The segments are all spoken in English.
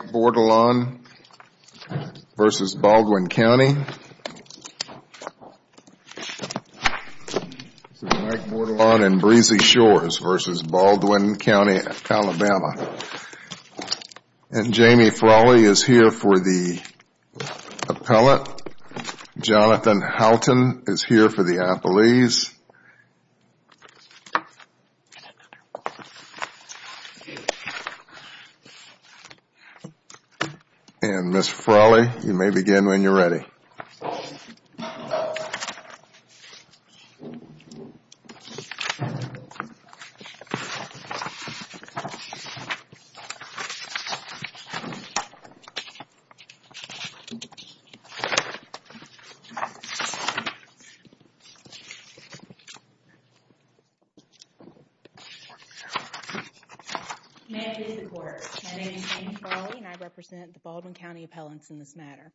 Mike Bordelon and Breezy Shores v. Baldwin County, AL And Jamie Frawley is here for the appellate. Jonathan Halton is here for the appellees. And Ms. Frawley, you may begin when you're ready. My name is Jamie Frawley and I represent the Baldwin County appellants in this matter.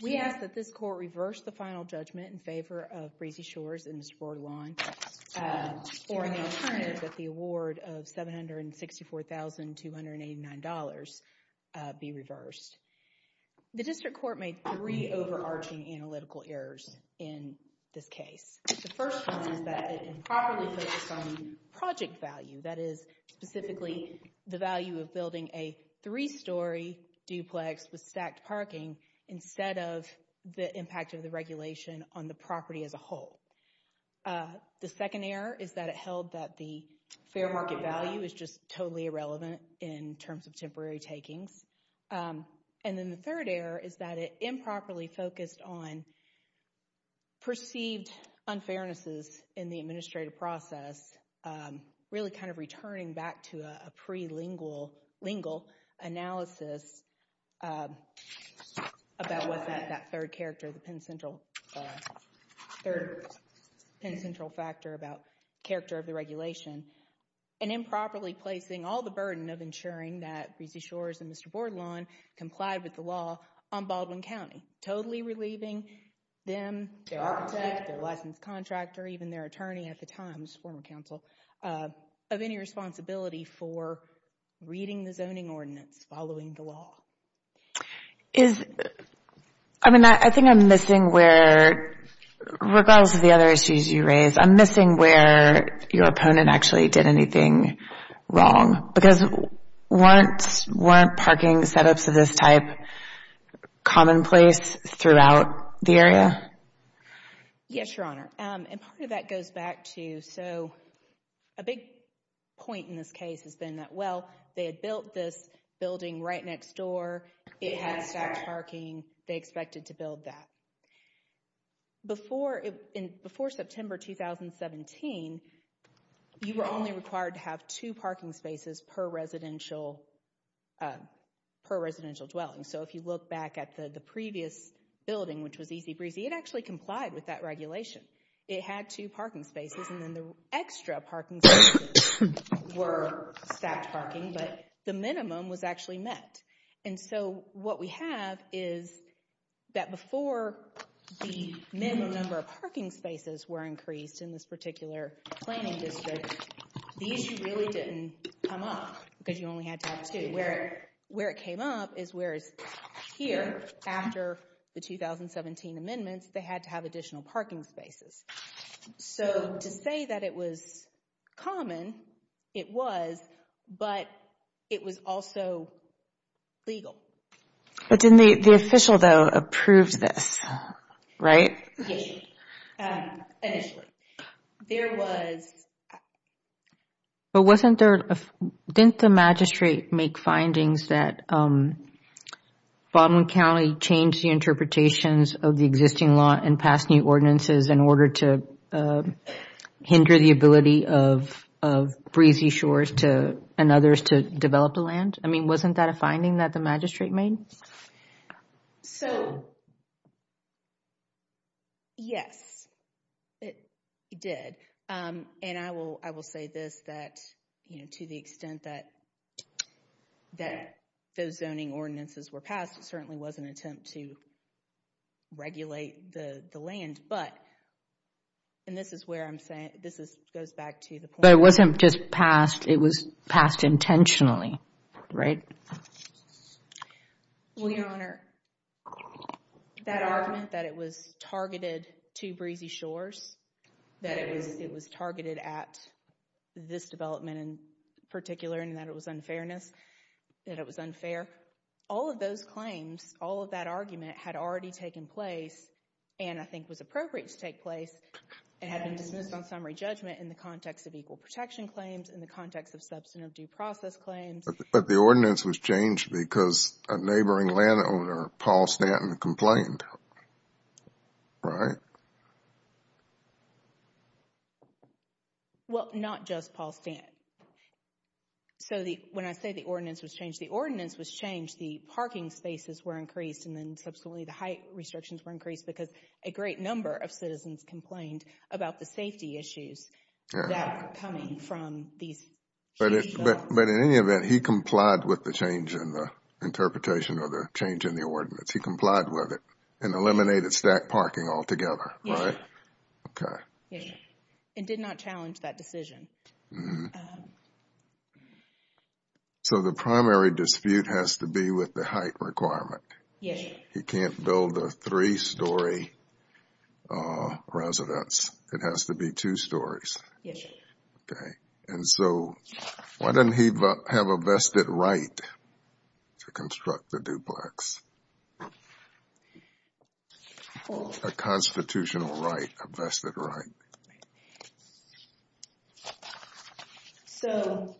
We ask that this court reverse the final judgment in favor of Breezy Shores and Ms. Bordelon for an alternative that the award of $764,289 be reversed. The district court made three overarching analytical errors in this case. The first one is that it improperly focused on project value, that is specifically the value of building a three-story duplex with The second error is that it held that the fair market value is just totally irrelevant in terms of temporary takings. And then the third error is that it improperly focused on perceived unfairnesses in the administrative process, really kind of returning back to a pre-lingual analysis about what's at that third character, the pen central factor about character of the regulation. And improperly placing all the burden of ensuring that Breezy Shores and Mr. Bordelon complied with the law on Baldwin County, totally relieving them, their architect, their licensed contractor, even their attorney at the time, his former counsel, of any responsibility for reading the zoning ordinance following the law. I mean, I think I'm missing where, regardless of the other issues you raise, I'm missing where your opponent actually did anything wrong. Because weren't parking setups of this type commonplace throughout the area? Yes, Your Honor. And part of that goes back to, so a big point in this case has been that, well, they had built this building right next door, it had stacked parking, they expected to build that. Before September 2017, you were only required to have two parking spaces per residential dwelling. So if you look back at the previous building, which was Easy Breezy, it actually complied with that regulation. It had two parking spaces, and then the extra parking spaces were stacked parking, but the minimum was actually met. And so what we have is that before the minimum number of parking spaces were increased in this particular planning district, these really didn't come up, because you only had to have two. Where it came up is whereas here, after the 2017 amendments, they had to have additional parking spaces. So to say that it was common, it was, but it was also legal. But didn't the official, though, approve this, right? Yes, initially. There was... But wasn't there, didn't the magistrate make findings that Baldwin County changed the interpretations of the existing law and passed new ordinances in order to hinder the ability of Breezy Shores and others to develop the land? I mean, wasn't that a finding that the magistrate made? So, yes, it did. And I will say this, that to the extent that those zoning ordinances were passed, it certainly was an attempt to regulate the land. But, and this is where I'm saying, this goes back to the point... It was passed intentionally, right? Well, Your Honor, that argument that it was targeted to Breezy Shores, that it was targeted at this development in particular, and that it was unfair, all of those claims, all of that argument had already taken place, and I think was appropriate to take place, and in the context of substantive due process claims. But the ordinance was changed because a neighboring landowner, Paul Stanton, complained, right? Well, not just Paul Stanton. So when I say the ordinance was changed, the ordinance was changed, the parking spaces were increased, and then subsequently the height restrictions were increased, because a great number of citizens complained about the safety issues that were coming from these... But in any event, he complied with the change in the interpretation or the change in the ordinance. He complied with it and eliminated stacked parking altogether, right? Yes. Okay. Yes. And did not challenge that decision. So the primary dispute has to be with the height requirement. Yes. He can't build a three-story residence. It has to be two stories. Yes. Okay. And so, why didn't he have a vested right to construct the duplex? A constitutional right, a vested right. Right. So...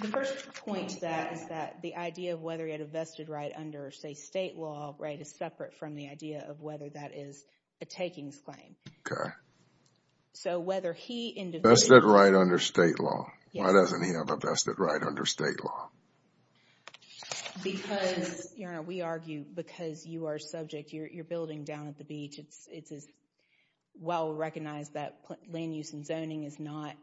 The first point to that is that the idea of whether he had a vested right under, say, state law, right, is separate from the idea of whether that is a takings claim. Okay. So whether he... Vested right under state law. Yes. Why doesn't he have a vested right under state law? Because, Your Honor, we argue because you are subject... You're building down at the beach. It's as well recognized that land use and zoning is not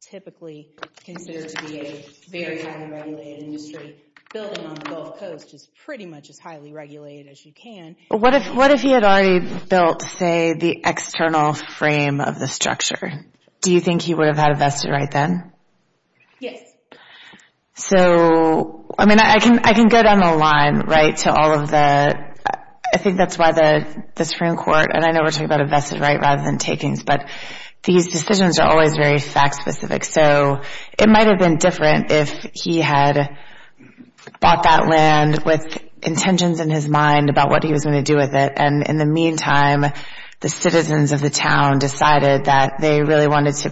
typically considered to be a very highly regulated industry. Building on the Gulf Coast is pretty much as highly regulated as you can. What if he had already built, say, the external frame of the structure? Do you think he would have had a vested right then? Yes. So, I mean, I can go down the line, right, to all of the... I think that's why the Supreme Court, and I know we're talking about a vested right rather than takings, but these decisions are always very fact-specific. So it might have been different if he had bought that land with intentions in his mind about what he was going to do with it. And in the meantime, the citizens of the town decided that they really wanted to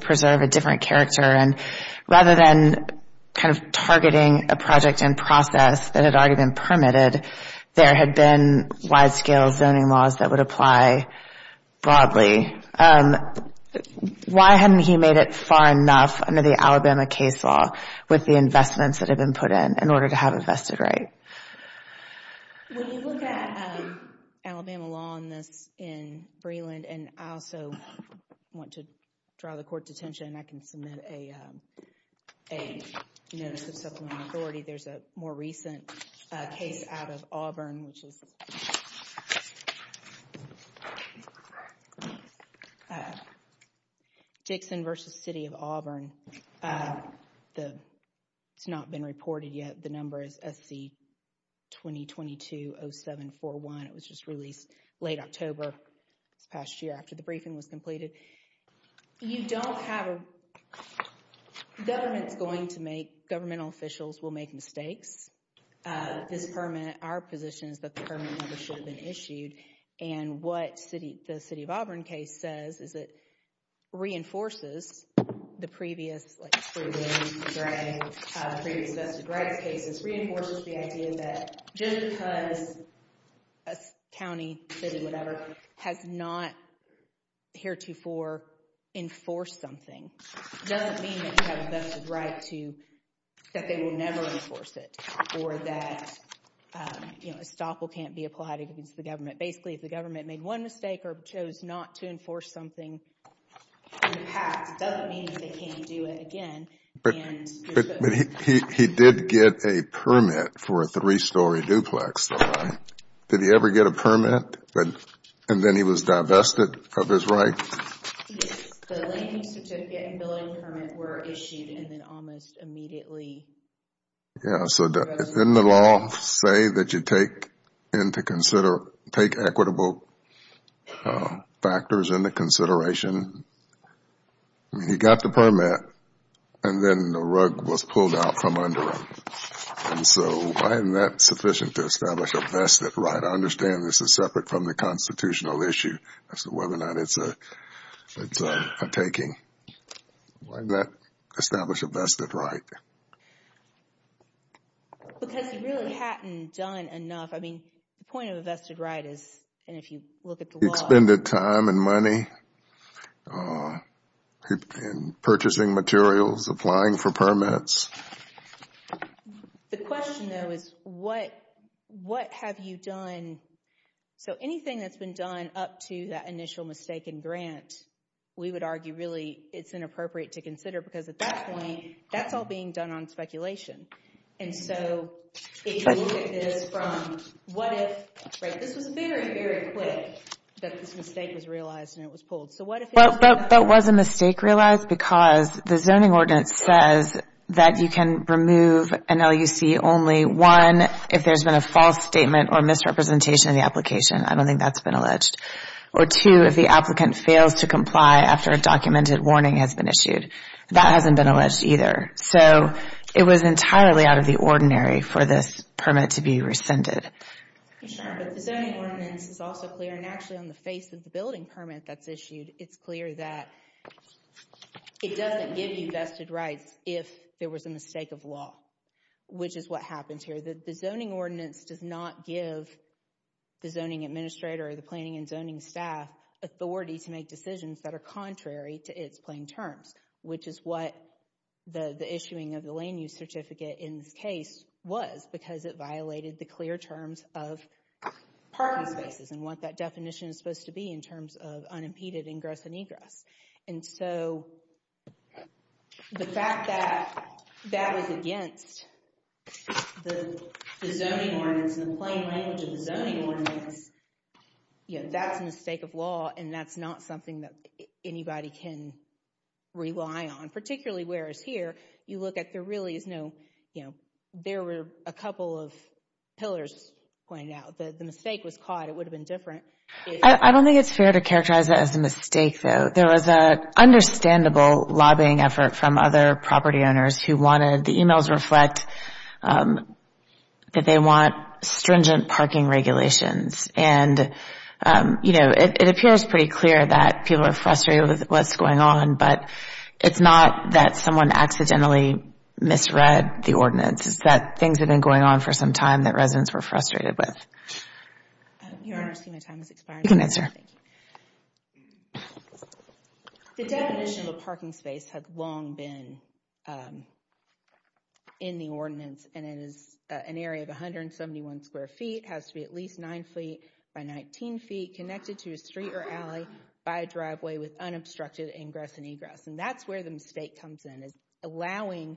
kind of targeting a project and process that had already been permitted. There had been wide-scale zoning laws that would apply broadly. Why hadn't he made it far enough under the Alabama case law with the investments that had been put in in order to have a vested right? And I also want to draw the court's attention, and I can submit a notice of supplemental authority. There's a more recent case out of Auburn, which is Dixon v. City of Auburn. It's not been reported yet. The number is SC-2022-0741. It was just released late October this past year after the briefing was completed. You don't have a... Government's going to make...governmental officials will make mistakes. This permanent...our position is that the permanent number should have been issued. And what the City of Auburn case says is it reinforces the previous, like, county, city, whatever, has not heretofore enforced something. It doesn't mean that you have a vested right to...that they will never enforce it or that a stop will can't be applied against the government. Basically, if the government made one mistake or chose not to enforce something in the past, it doesn't mean that they can't do it again. But he did get a permit for a three-story duplex. Did he ever get a permit? And then he was divested of his right? Yes. The landing certificate and billing permit were issued and then almost immediately... Yeah, so didn't the law say that you take into consider... take equitable factors into consideration? I mean, he got the permit and then the rug was pulled out from under him. And so why isn't that sufficient to establish a vested right? I understand this is separate from the constitutional issue. Whether or not it's a taking. Why not establish a vested right? Because he really hadn't done enough. I mean, the point of a vested right is, and if you look at the law... purchasing materials, applying for permits. The question, though, is what have you done? So anything that's been done up to that initial mistaken grant, we would argue really it's inappropriate to consider because at that point, that's all being done on speculation. And so if you look at this from what if... Right, this was very, very quick that this mistake was realized and it was pulled. But was a mistake realized because the zoning ordinance says that you can remove an LUC only, one, if there's been a false statement or misrepresentation of the application. I don't think that's been alleged. Or two, if the applicant fails to comply after a documented warning has been issued. That hasn't been alleged either. So it was entirely out of the ordinary for this permit to be rescinded. Sure, but the zoning ordinance is also clear. And actually on the face of the building permit that's issued, it's clear that it doesn't give you vested rights if there was a mistake of law, which is what happens here. The zoning ordinance does not give the zoning administrator or the planning and zoning staff authority to make decisions that are contrary to its plain terms, which is what the issuing of the Lane Use Certificate in this case was because it violated the clear terms of parking spaces and what that definition is supposed to be in terms of unimpeded ingress and egress. And so the fact that that was against the zoning ordinance and the plain language of the zoning ordinance, that's a mistake of law and that's not something that anybody can rely on. Particularly whereas here, you look at there really is no, you know, there were a couple of pillars going out. The mistake was caught. It would have been different. I don't think it's fair to characterize it as a mistake, though. There was an understandable lobbying effort from other property owners who wanted, the emails reflect that they want stringent parking regulations. And, you know, it appears pretty clear that people are frustrated with what's going on, but it's not that someone accidentally misread the ordinance. It's that things have been going on for some time that residents were frustrated with. Your Honor, I see my time has expired. You can answer. The definition of a parking space has long been in the ordinance and it is an area of 171 square feet, has to be at least 9 feet by 19 feet, connected to a street or alley by a driveway with unobstructed ingress and egress. And that's where the mistake comes in is allowing,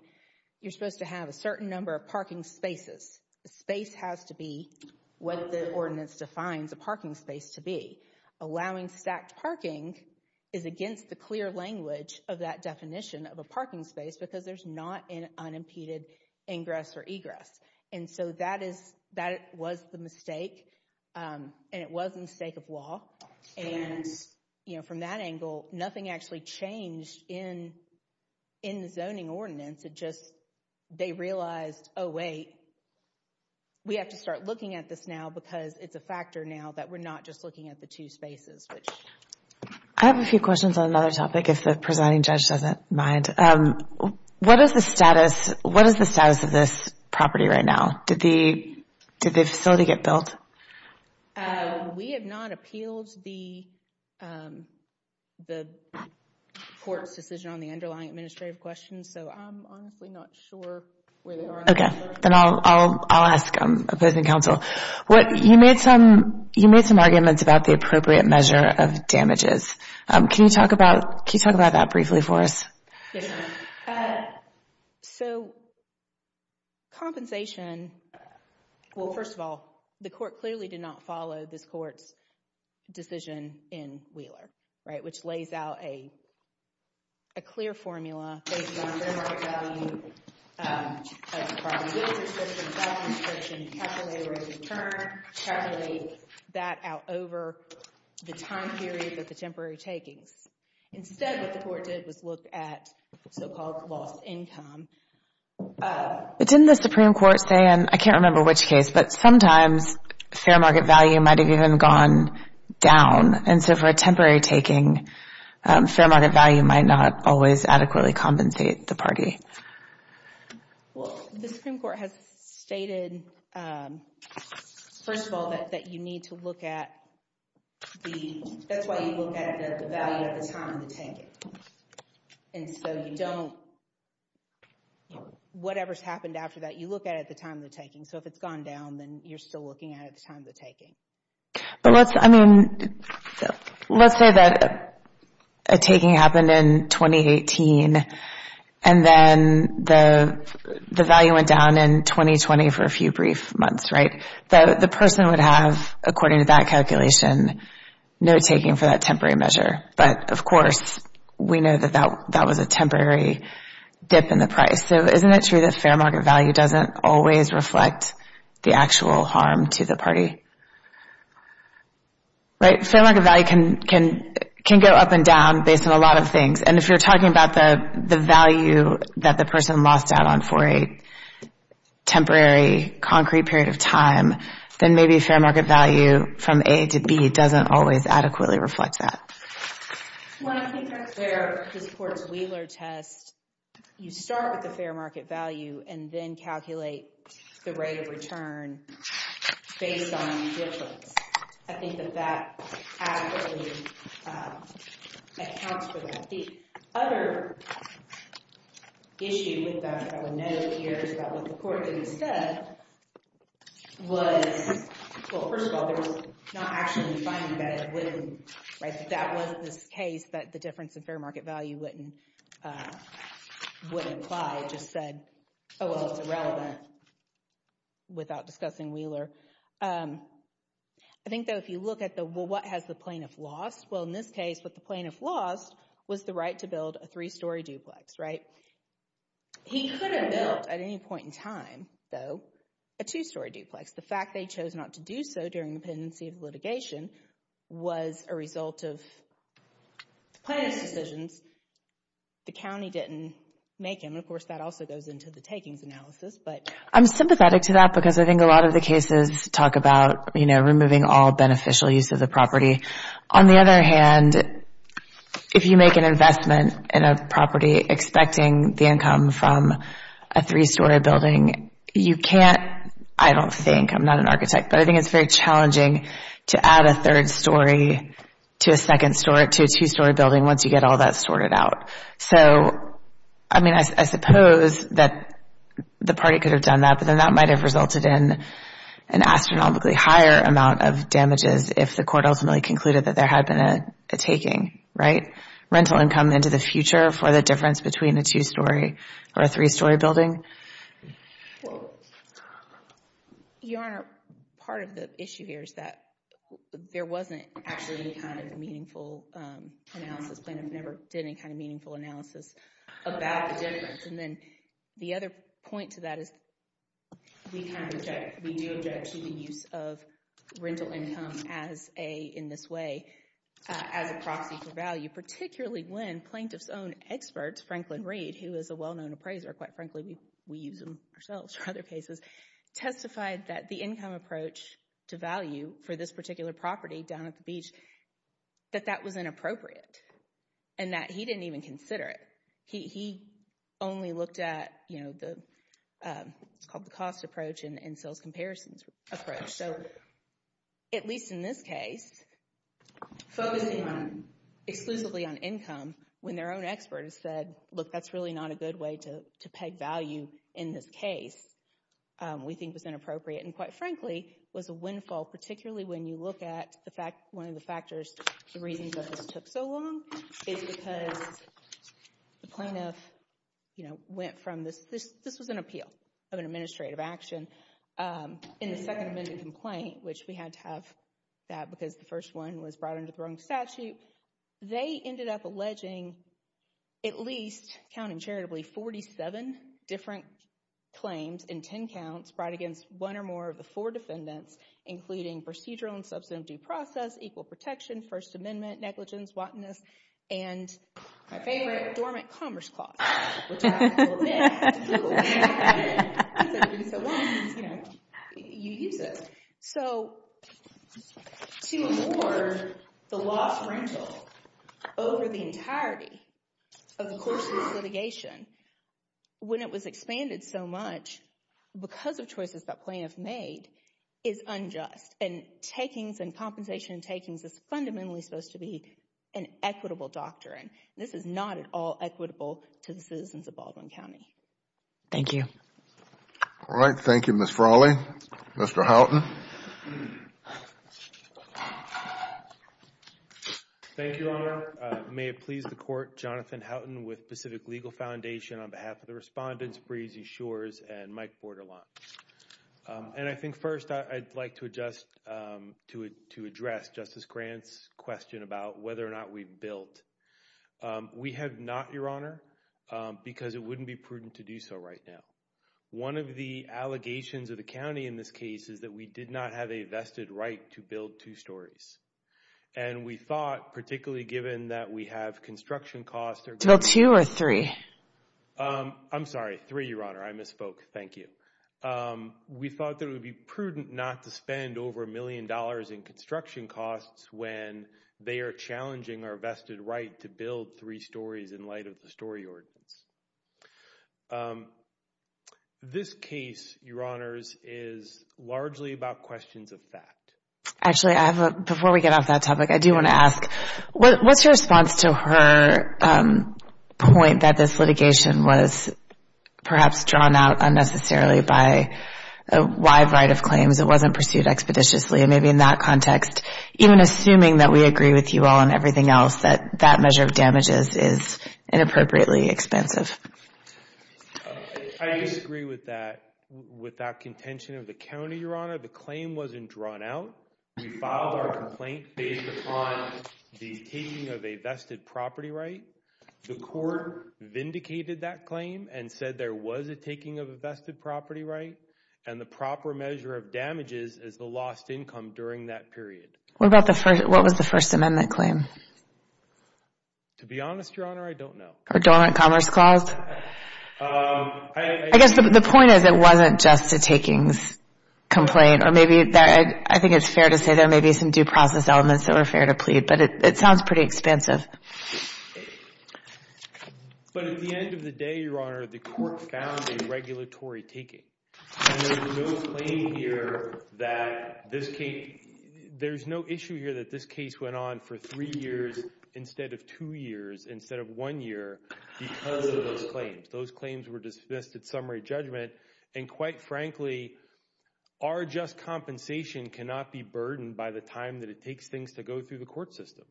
you're supposed to have a certain number of parking spaces. The space has to be what the ordinance defines a parking space to be. Allowing stacked parking is against the clear language of that definition of a parking space because there's not an unimpeded ingress or egress. And so that was the mistake, and it was a mistake of law. And, you know, from that angle, nothing actually changed in the zoning ordinance. It just, they realized, oh wait, we have to start looking at this now because it's a factor now that we're not just looking at the two spaces. I have a few questions on another topic, if the presiding judge doesn't mind. What is the status of this property right now? Did the facility get built? We have not appealed the court's decision on the underlying administrative questions, so I'm honestly not sure where they are. Okay, then I'll ask opposing counsel. You made some arguments about the appropriate measure of damages. Can you talk about that briefly for us? Yes, ma'am. So compensation, well, first of all, the court clearly did not follow this court's decision in Wheeler, right, which lays out a clear formula based on fair market value of property. The Wheeler decision by the administration calculated return, calculated that out over the time period of the temporary takings. Instead, what the court did was look at so-called lost income. But didn't the Supreme Court say, and I can't remember which case, but sometimes fair market value might have even gone down, and so for a temporary taking, fair market value might not always adequately compensate the party. Well, the Supreme Court has stated, first of all, that you need to look at the, that's why you look at the value at the time of the taking. And so you don't, whatever's happened after that, you look at it at the time of the taking. So if it's gone down, then you're still looking at it at the time of the taking. But let's, I mean, let's say that a taking happened in 2018, and then the value went down in 2020 for a few brief months, right? The person would have, according to that calculation, no taking for that temporary measure. But, of course, we know that that was a temporary dip in the price. So isn't it true that fair market value doesn't always reflect the actual harm to the party? Right? Fair market value can go up and down based on a lot of things. And if you're talking about the value that the person lost out on for a temporary, concrete period of time, then maybe fair market value from A to B doesn't always adequately reflect that. Well, I think that's where this Court's Wheeler test, you start with the fair market value and then calculate the rate of return based on the difference. I think that that adequately accounts for that. The other issue with that that I would note here is about what the Court did instead was, well, first of all, there's not actually a finding that it wouldn't, right? That wasn't this case that the difference in fair market value wouldn't apply. I just said, oh, well, it's irrelevant without discussing Wheeler. I think, though, if you look at what has the plaintiff lost, well, in this case what the plaintiff lost was the right to build a three-story duplex, right? He could have built, at any point in time, though, a two-story duplex. The fact they chose not to do so during the pendency of litigation was a result of plaintiff's decisions. The county didn't make them. Of course, that also goes into the takings analysis. I'm sympathetic to that because I think a lot of the cases talk about, you know, removing all beneficial use of the property. On the other hand, if you make an investment in a property expecting the income from a three-story building, you can't, I don't think, I'm not an architect, but I think it's very challenging to add a third story to a second story, to a two-story building once you get all that sorted out. So, I mean, I suppose that the party could have done that, but then that might have resulted in an astronomically higher amount of damages if the court ultimately concluded that there had been a taking, right? Rental income into the future for the difference between a two-story or a three-story building. Well, Your Honor, part of the issue here is that there wasn't actually any kind of meaningful analysis. Plaintiff never did any kind of meaningful analysis about the difference. And then the other point to that is we do object to the use of rental income in this way as a proxy for value, particularly when plaintiff's own experts, Franklin Reed, who is a well-known appraiser, quite frankly, we use him ourselves for other cases, testified that the income approach to value for this particular property down at the beach, that that was inappropriate and that he didn't even consider it. He only looked at, you know, the cost approach and sales comparisons approach. So, at least in this case, focusing exclusively on income when their own expert has said, look, that's really not a good way to peg value in this case, we think was inappropriate. And quite frankly, was a windfall, particularly when you look at the fact, one of the factors, the reasons that this took so long is because the plaintiff, you know, went from this, this was an appeal of an administrative action in the second amendment complaint, which we had to have that because the first one was brought under the wrong statute. They ended up alleging at least, counting charitably, 47 different claims in 10 counts brought against one or more of the four defendants, including procedural and substantive due process, equal protection, first amendment, negligence, wantonness, and my favorite, dormant commerce clause. Which I have to admit, took a little time to get in. Because everybody said, well, you know, you use it. So, to award the lost rental over the entirety of the course of this litigation, when it was expanded so much because of choices that plaintiff made, is unjust. And takings and compensation takings is fundamentally supposed to be an equitable doctrine. This is not at all equitable to the citizens of Baldwin County. Thank you. All right. Thank you, Ms. Frawley. Mr. Houghton. Thank you, Your Honor. May it please the court, Jonathan Houghton with Pacific Legal Foundation on behalf of the respondents, Breezy Shores and Mike Borderline. And I think first I'd like to address Justice Grant's question about whether or not we've built. We have not, Your Honor, because it wouldn't be prudent to do so right now. One of the allegations of the county in this case is that we did not have a vested right to build two stories. And we thought, particularly given that we have construction costs. To build two or three? I'm sorry, three, Your Honor. I misspoke. Thank you. We thought that it would be prudent not to spend over a million dollars in construction costs when they are challenging our vested right to build three stories in light of the story ordinance. This case, Your Honors, is largely about questions of fact. Actually, before we get off that topic, I do want to ask, what's your response to her point that this litigation was perhaps drawn out unnecessarily by a wide variety of claims that wasn't pursued expeditiously? And maybe in that context, even assuming that we agree with you all and everything else, that that measure of damages is inappropriately expensive. I disagree with that. Without contention of the county, Your Honor, the claim wasn't drawn out. We filed our complaint based upon the taking of a vested property right. The court vindicated that claim and said there was a taking of a vested property right. And the proper measure of damages is the lost income during that period. What was the First Amendment claim? To be honest, Your Honor, I don't know. Or dormant commerce clause? I guess the point is it wasn't just a takings complaint. Or maybe I think it's fair to say there may be some due process elements that were fair to plead. But it sounds pretty expensive. But at the end of the day, Your Honor, the court found a regulatory taking. And there was no claim here that this case – there's no issue here that this case went on for three years instead of two years instead of one year because of those claims. Those claims were dismissed at summary judgment. And quite frankly, our just compensation cannot be burdened by the time that it takes things to go through the court system.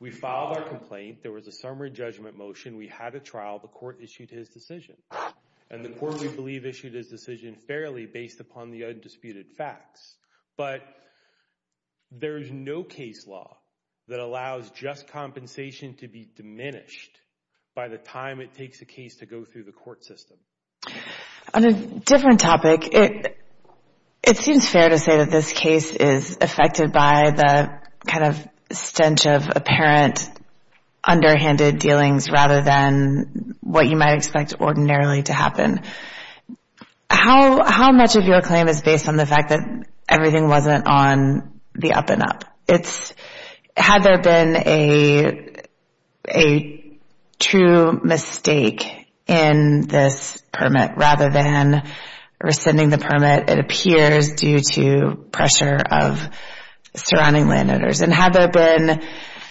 We filed our complaint. There was a summary judgment motion. We had a trial. The court issued his decision. And the court, we believe, issued his decision fairly based upon the undisputed facts. But there is no case law that allows just compensation to be diminished by the time it takes a case to go through the court system. On a different topic, it seems fair to say that this case is affected by the kind of stench of apparent underhanded dealings rather than what you might expect ordinarily to happen. How much of your claim is based on the fact that everything wasn't on the up and up? Had there been a true mistake in this permit rather than rescinding the permit, it appears due to pressure of surrounding landowners. And had there been,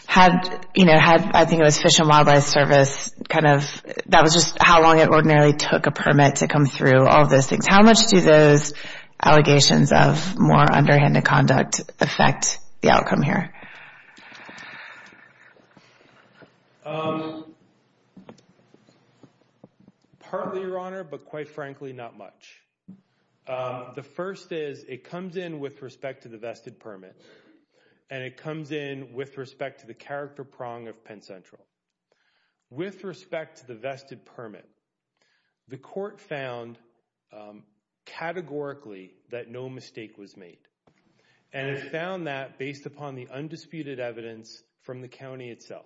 I think it was Fish and Wildlife Service, that was just how long it ordinarily took a permit to come through, all of those things. How much do those allegations of more underhanded conduct affect the outcome here? Partly, Your Honor, but quite frankly, not much. The first is it comes in with respect to the vested permit. And it comes in with respect to the character prong of Penn Central. With respect to the vested permit, the court found categorically that no mistake was made. And it found that based upon the undisputed evidence from the county itself.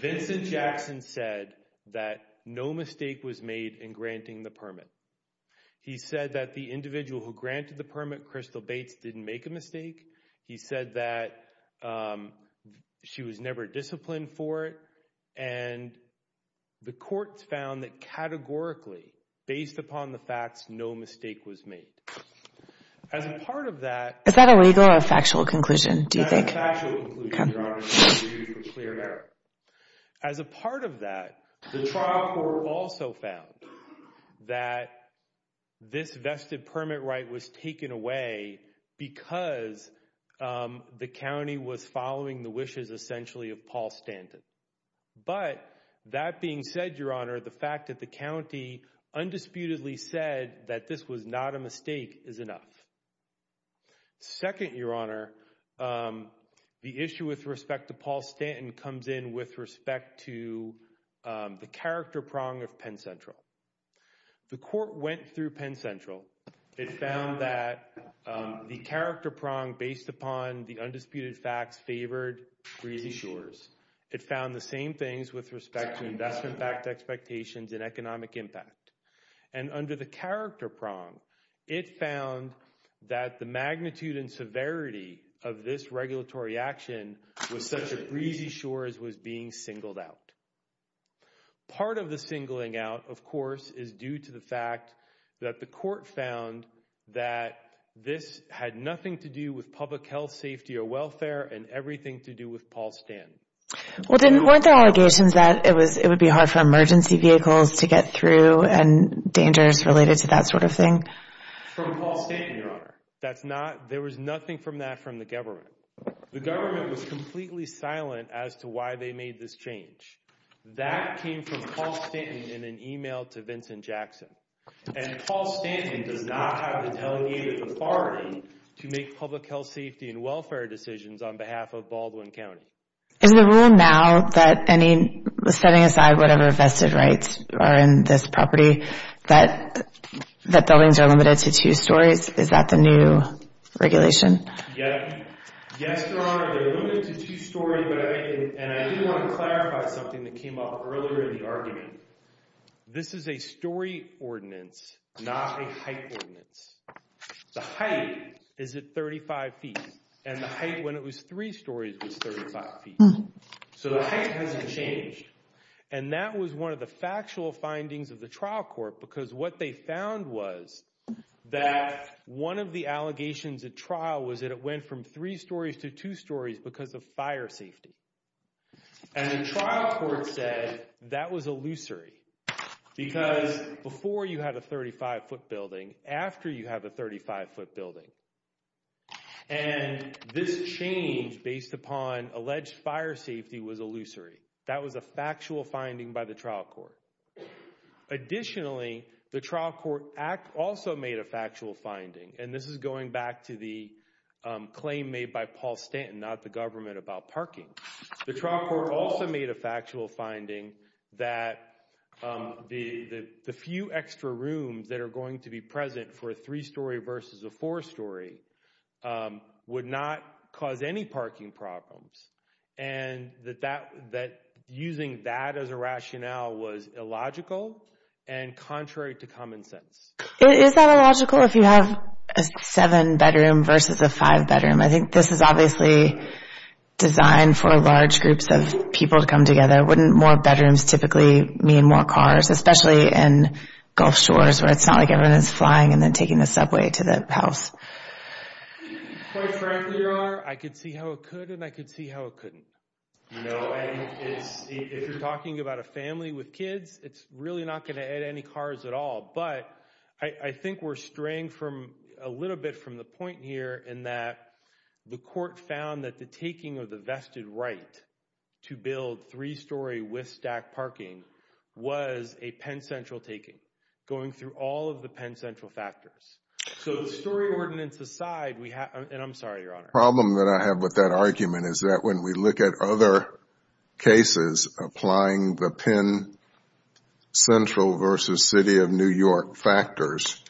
Vincent Jackson said that no mistake was made in granting the permit. He said that the individual who granted the permit, Crystal Bates, didn't make a mistake. He said that she was never disciplined for it. And the courts found that categorically, based upon the facts, no mistake was made. As a part of that... Is that a legal or a factual conclusion, do you think? That's a factual conclusion, Your Honor. As a part of that, the trial court also found that this vested permit right was taken away because the county was following the wishes, essentially, of Paul Stanton. But that being said, Your Honor, the fact that the county undisputedly said that this was not a mistake is enough. Second, Your Honor, the issue with respect to Paul Stanton comes in with respect to the character prong of Penn Central. The court went through Penn Central. It found that the character prong based upon the undisputed facts favored Breezy Shores. It found the same things with respect to investment backed expectations and economic impact. And under the character prong, it found that the magnitude and severity of this regulatory action was such that Breezy Shores was being singled out. Part of the singling out, of course, is due to the fact that the court found that this had nothing to do with public health, safety, or welfare and everything to do with Paul Stanton. Well, weren't there allegations that it would be hard for emergency vehicles to get through and dangers related to that sort of thing? From Paul Stanton, Your Honor. There was nothing from that from the government. The government was completely silent as to why they made this change. That came from Paul Stanton in an email to Vincent Jackson. And Paul Stanton does not have the delegated authority to make public health, safety, and welfare decisions on behalf of Baldwin County. Is the rule now that any, setting aside whatever vested rights are in this property, that buildings are limited to two stories? Is that the new regulation? Yes, Your Honor. They're limited to two stories, and I do want to clarify something that came up earlier in the argument. This is a story ordinance, not a height ordinance. The height is at 35 feet, and the height when it was three stories was 35 feet. So the height hasn't changed. And that was one of the factual findings of the trial court because what they found was that one of the allegations at trial was that it went from three stories to two stories because of fire safety. And the trial court said that was illusory because before you had a 35-foot building, after you have a 35-foot building, and this change based upon alleged fire safety was illusory. That was a factual finding by the trial court. Additionally, the trial court also made a factual finding, and this is going back to the claim made by Paul Stanton, not the government, about parking. The trial court also made a factual finding that the few extra rooms that are going to be present for a three-story versus a four-story would not cause any parking problems. And that using that as a rationale was illogical and contrary to common sense. Is that illogical if you have a seven-bedroom versus a five-bedroom? I think this is obviously designed for large groups of people to come together. Wouldn't more bedrooms typically mean more cars, especially in Gulf Shores where it's not like everyone is flying and then taking the subway to the house? Quite frankly, there are. I could see how it could, and I could see how it couldn't. If you're talking about a family with kids, it's really not going to add any cars at all. But I think we're straying a little bit from the point here in that the court found that the taking of the vested right to build three-story with stacked parking was a Penn Central taking, going through all of the Penn Central factors. So the story ordinance aside, and I'm sorry, Your Honor. The problem that I have with that argument is that when we look at other cases applying the Penn Central versus City of New York factors,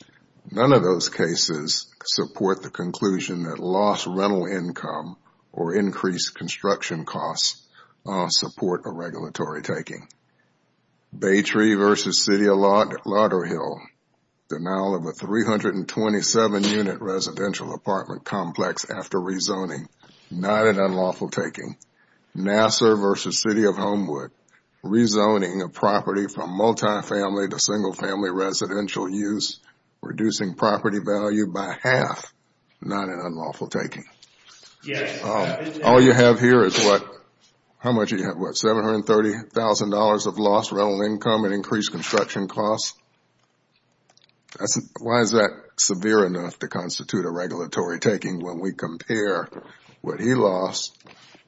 none of those cases support the conclusion that lost rental income or increased construction costs support a regulatory taking. Baytree versus City of Lauderhill. Denial of a 327-unit residential apartment complex after rezoning. Not an unlawful taking. Nassar versus City of Homewood. Rezoning a property from multifamily to single-family residential use, reducing property value by half. Not an unlawful taking. All you have here is what? How much do you have? What, $730,000 of lost rental income and increased construction costs? Why is that severe enough to constitute a regulatory taking when we compare what he lost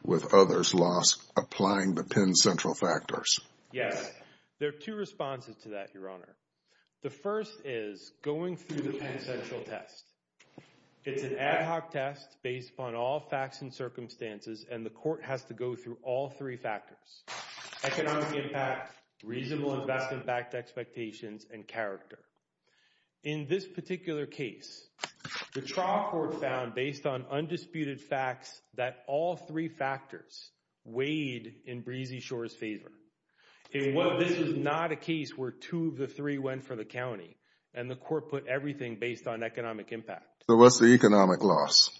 with others lost applying the Penn Central factors? Yes. There are two responses to that, Your Honor. The first is going through the Penn Central test. It's an ad hoc test based upon all facts and circumstances, and the court has to go through all three factors. Economic impact, reasonable investment-backed expectations, and character. In this particular case, the trial court found, based on undisputed facts, that all three factors weighed in Breezy Shore's favor. This is not a case where two of the three went for the county, and the court put everything based on economic impact. So what's the economic loss?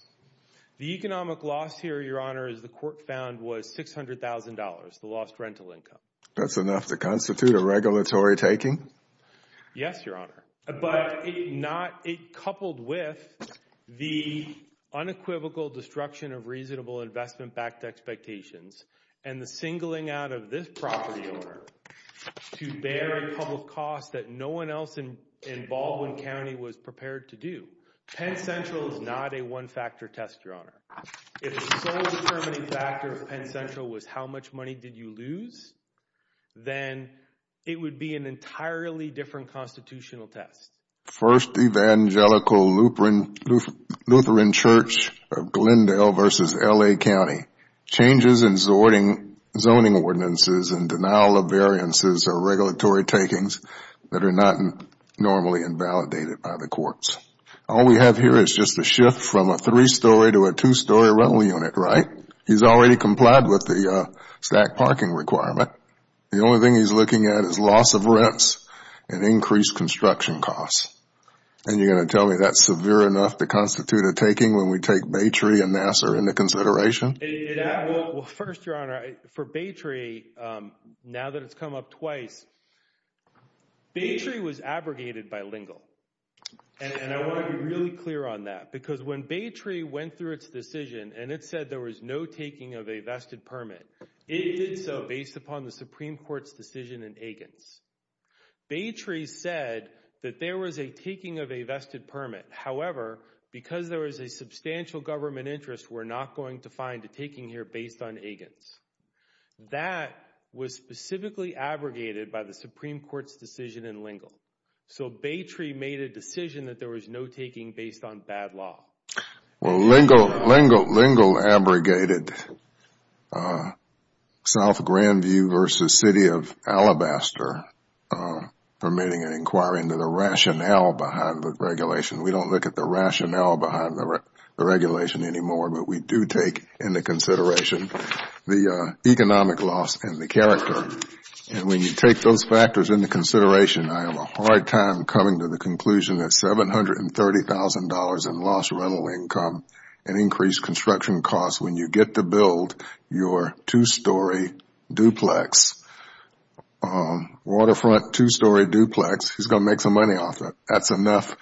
The economic loss here, Your Honor, as the court found, was $600,000, the lost rental income. That's enough to constitute a regulatory taking? Yes, Your Honor. But it coupled with the unequivocal destruction of reasonable investment-backed expectations and the singling out of this property owner to bear a public cost that no one else in Baldwin County was prepared to do. Penn Central is not a one-factor test, Your Honor. If the sole determining factor of Penn Central was how much money did you lose, then it would be an entirely different constitutional test. First Evangelical Lutheran Church of Glendale v. L.A. County. Changes in zoning ordinances and denial of variances are regulatory takings that are not normally invalidated by the courts. All we have here is just a shift from a three-story to a two-story rental unit, right? He's already complied with the stacked parking requirement. The only thing he's looking at is loss of rents and increased construction costs. And you're going to tell me that's severe enough to constitute a taking when we take Baytree and Nassar into consideration? First, Your Honor, for Baytree, now that it's come up twice, Baytree was abrogated bilingual. And I want to be really clear on that because when Baytree went through its decision and it said there was no taking of a vested permit, it did so based upon the Supreme Court's decision in Agins. Baytree said that there was a taking of a vested permit. However, because there was a substantial government interest, we're not going to find a taking here based on Agins. That was specifically abrogated by the Supreme Court's decision in Lingle. So Baytree made a decision that there was no taking based on bad law. Well, Lingle abrogated South Grandview v. City of Alabaster permitting an inquiry into the rationale behind the regulation. We don't look at the rationale behind the regulation anymore, but we do take into consideration the economic loss and the character. And when you take those factors into consideration, I have a hard time coming to the conclusion that $730,000 in lost rental income and increased construction costs when you get to build your two-story duplex, waterfront two-story duplex, he's going to make some money off it. That's enough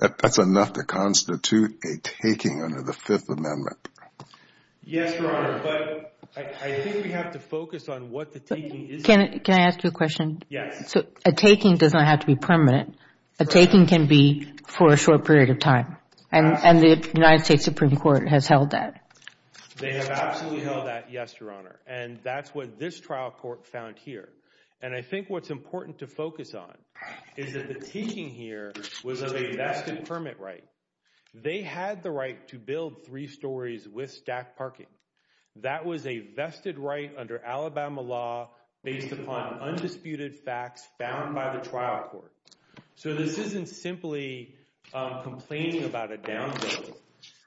to constitute a taking under the Fifth Amendment. Yes, Your Honor, but I think we have to focus on what the taking is. Can I ask you a question? Yes. A taking does not have to be permanent. A taking can be for a short period of time. And the United States Supreme Court has held that. They have absolutely held that, yes, Your Honor. And that's what this trial court found here. And I think what's important to focus on is that the taking here was of a vested permit right. They had the right to build three stories with stacked parking. That was a vested right under Alabama law based upon undisputed facts found by the trial court. So this isn't simply complaining about a down payment.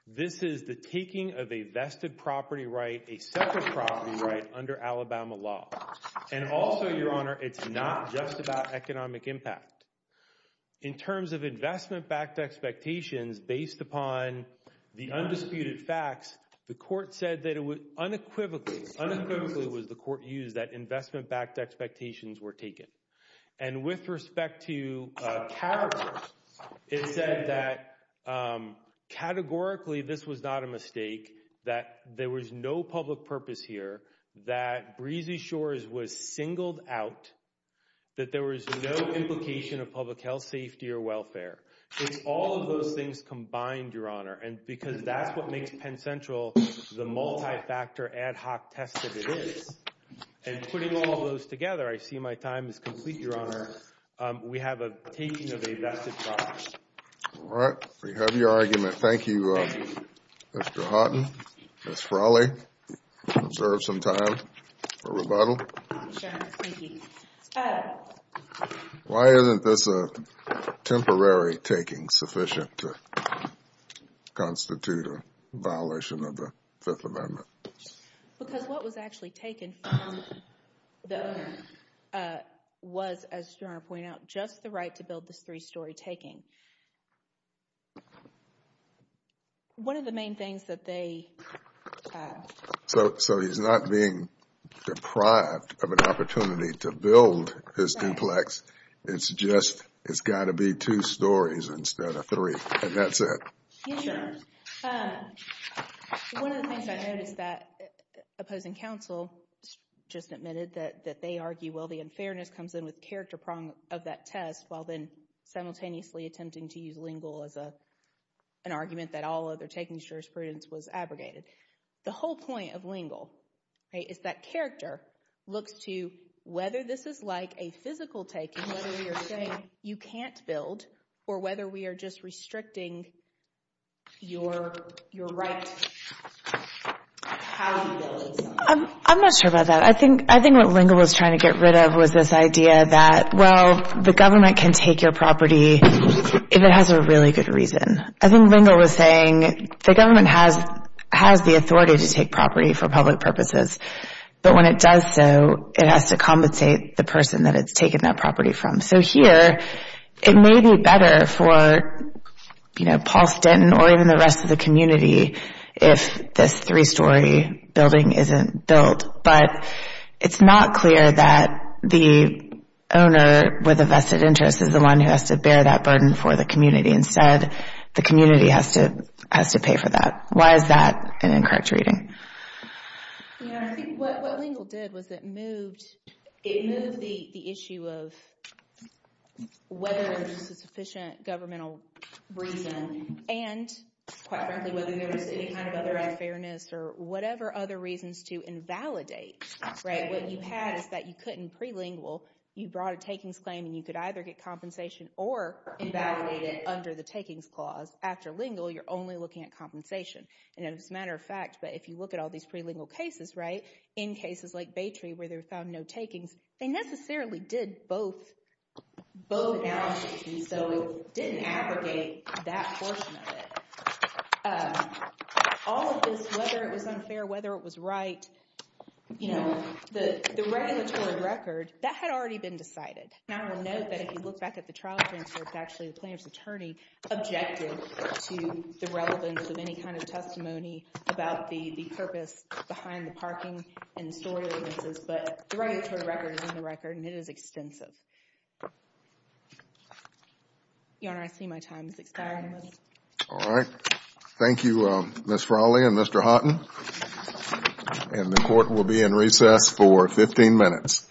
This is the taking of a vested property right, a separate property right under Alabama law. And also, Your Honor, it's not just about economic impact. In terms of investment-backed expectations based upon the undisputed facts, the court said that it would unequivocally, unequivocally was the court used that investment-backed expectations were taken. And with respect to categories, it said that categorically this was not a mistake, that there was no public purpose here, that Breezy Shores was singled out, that there was no implication of public health, safety, or welfare. It's all of those things combined, Your Honor. And because that's what makes Penn Central the multi-factor ad hoc test that it is. And putting all of those together, I see my time is complete, Your Honor. We have a taking of a vested property. All right. We have your argument. Thank you, Mr. Houghton, Ms. Frawley. You deserve some time for rebuttal. Thank you, Your Honor. Thank you. Why isn't this a temporary taking sufficient to constitute a violation of the Fifth Amendment? Because what was actually taken from the owner was, as Your Honor pointed out, just the right to build this three-story taking. One of the main things that they— So he's not being deprived of an opportunity to build his duplex. It's just, it's got to be two stories instead of three, and that's it. Yes, Your Honor. One of the things I noticed that opposing counsel just admitted that they argue, well, the unfairness comes in with character prong of that test, while then simultaneously attempting to use lingual as an argument that all other taking jurisprudence was abrogated. The whole point of lingual is that character looks to whether this is like a physical taking, whether you're saying you can't build or whether we are just restricting your right to how you build something. I'm not sure about that. I think what lingual was trying to get rid of was this idea that, well, the government can take your property if it has a really good reason. I think lingual was saying the government has the authority to take property for public purposes, but when it does so, it has to compensate the person that it's taken that property from. So here, it may be better for, you know, Paul Stenton or even the rest of the community if this three-story building isn't built, but it's not clear that the owner with a vested interest is the one who has to bear that burden for the community. Instead, the community has to pay for that. Why is that an incorrect reading? Yeah, I think what lingual did was it moved the issue of whether there's a sufficient governmental reason and, quite frankly, whether there was any kind of other unfairness or whatever other reasons to invalidate. Right? What you had is that you couldn't prelingual. You brought a takings claim, and you could either get compensation or invalidate it under the takings clause. After lingual, you're only looking at compensation. And as a matter of fact, but if you look at all these prelingual cases, right, in cases like Baytree where they found no takings, they necessarily did both analyses, and so it didn't abrogate that portion of it. All of this, whether it was unfair, whether it was right, you know, the regulatory record, that had already been decided. Now, I want to note that if you look back at the trial transfer, it's actually the plaintiff's attorney objected to the relevance of any kind of testimony about the purpose behind the parking and the store licenses, but the regulatory record is in the record, and it is extensive. Your Honor, I see my time is expiring. All right. Thank you, Ms. Frawley and Mr. Houghton, and the court will be in recess for 15 minutes. Goodbye.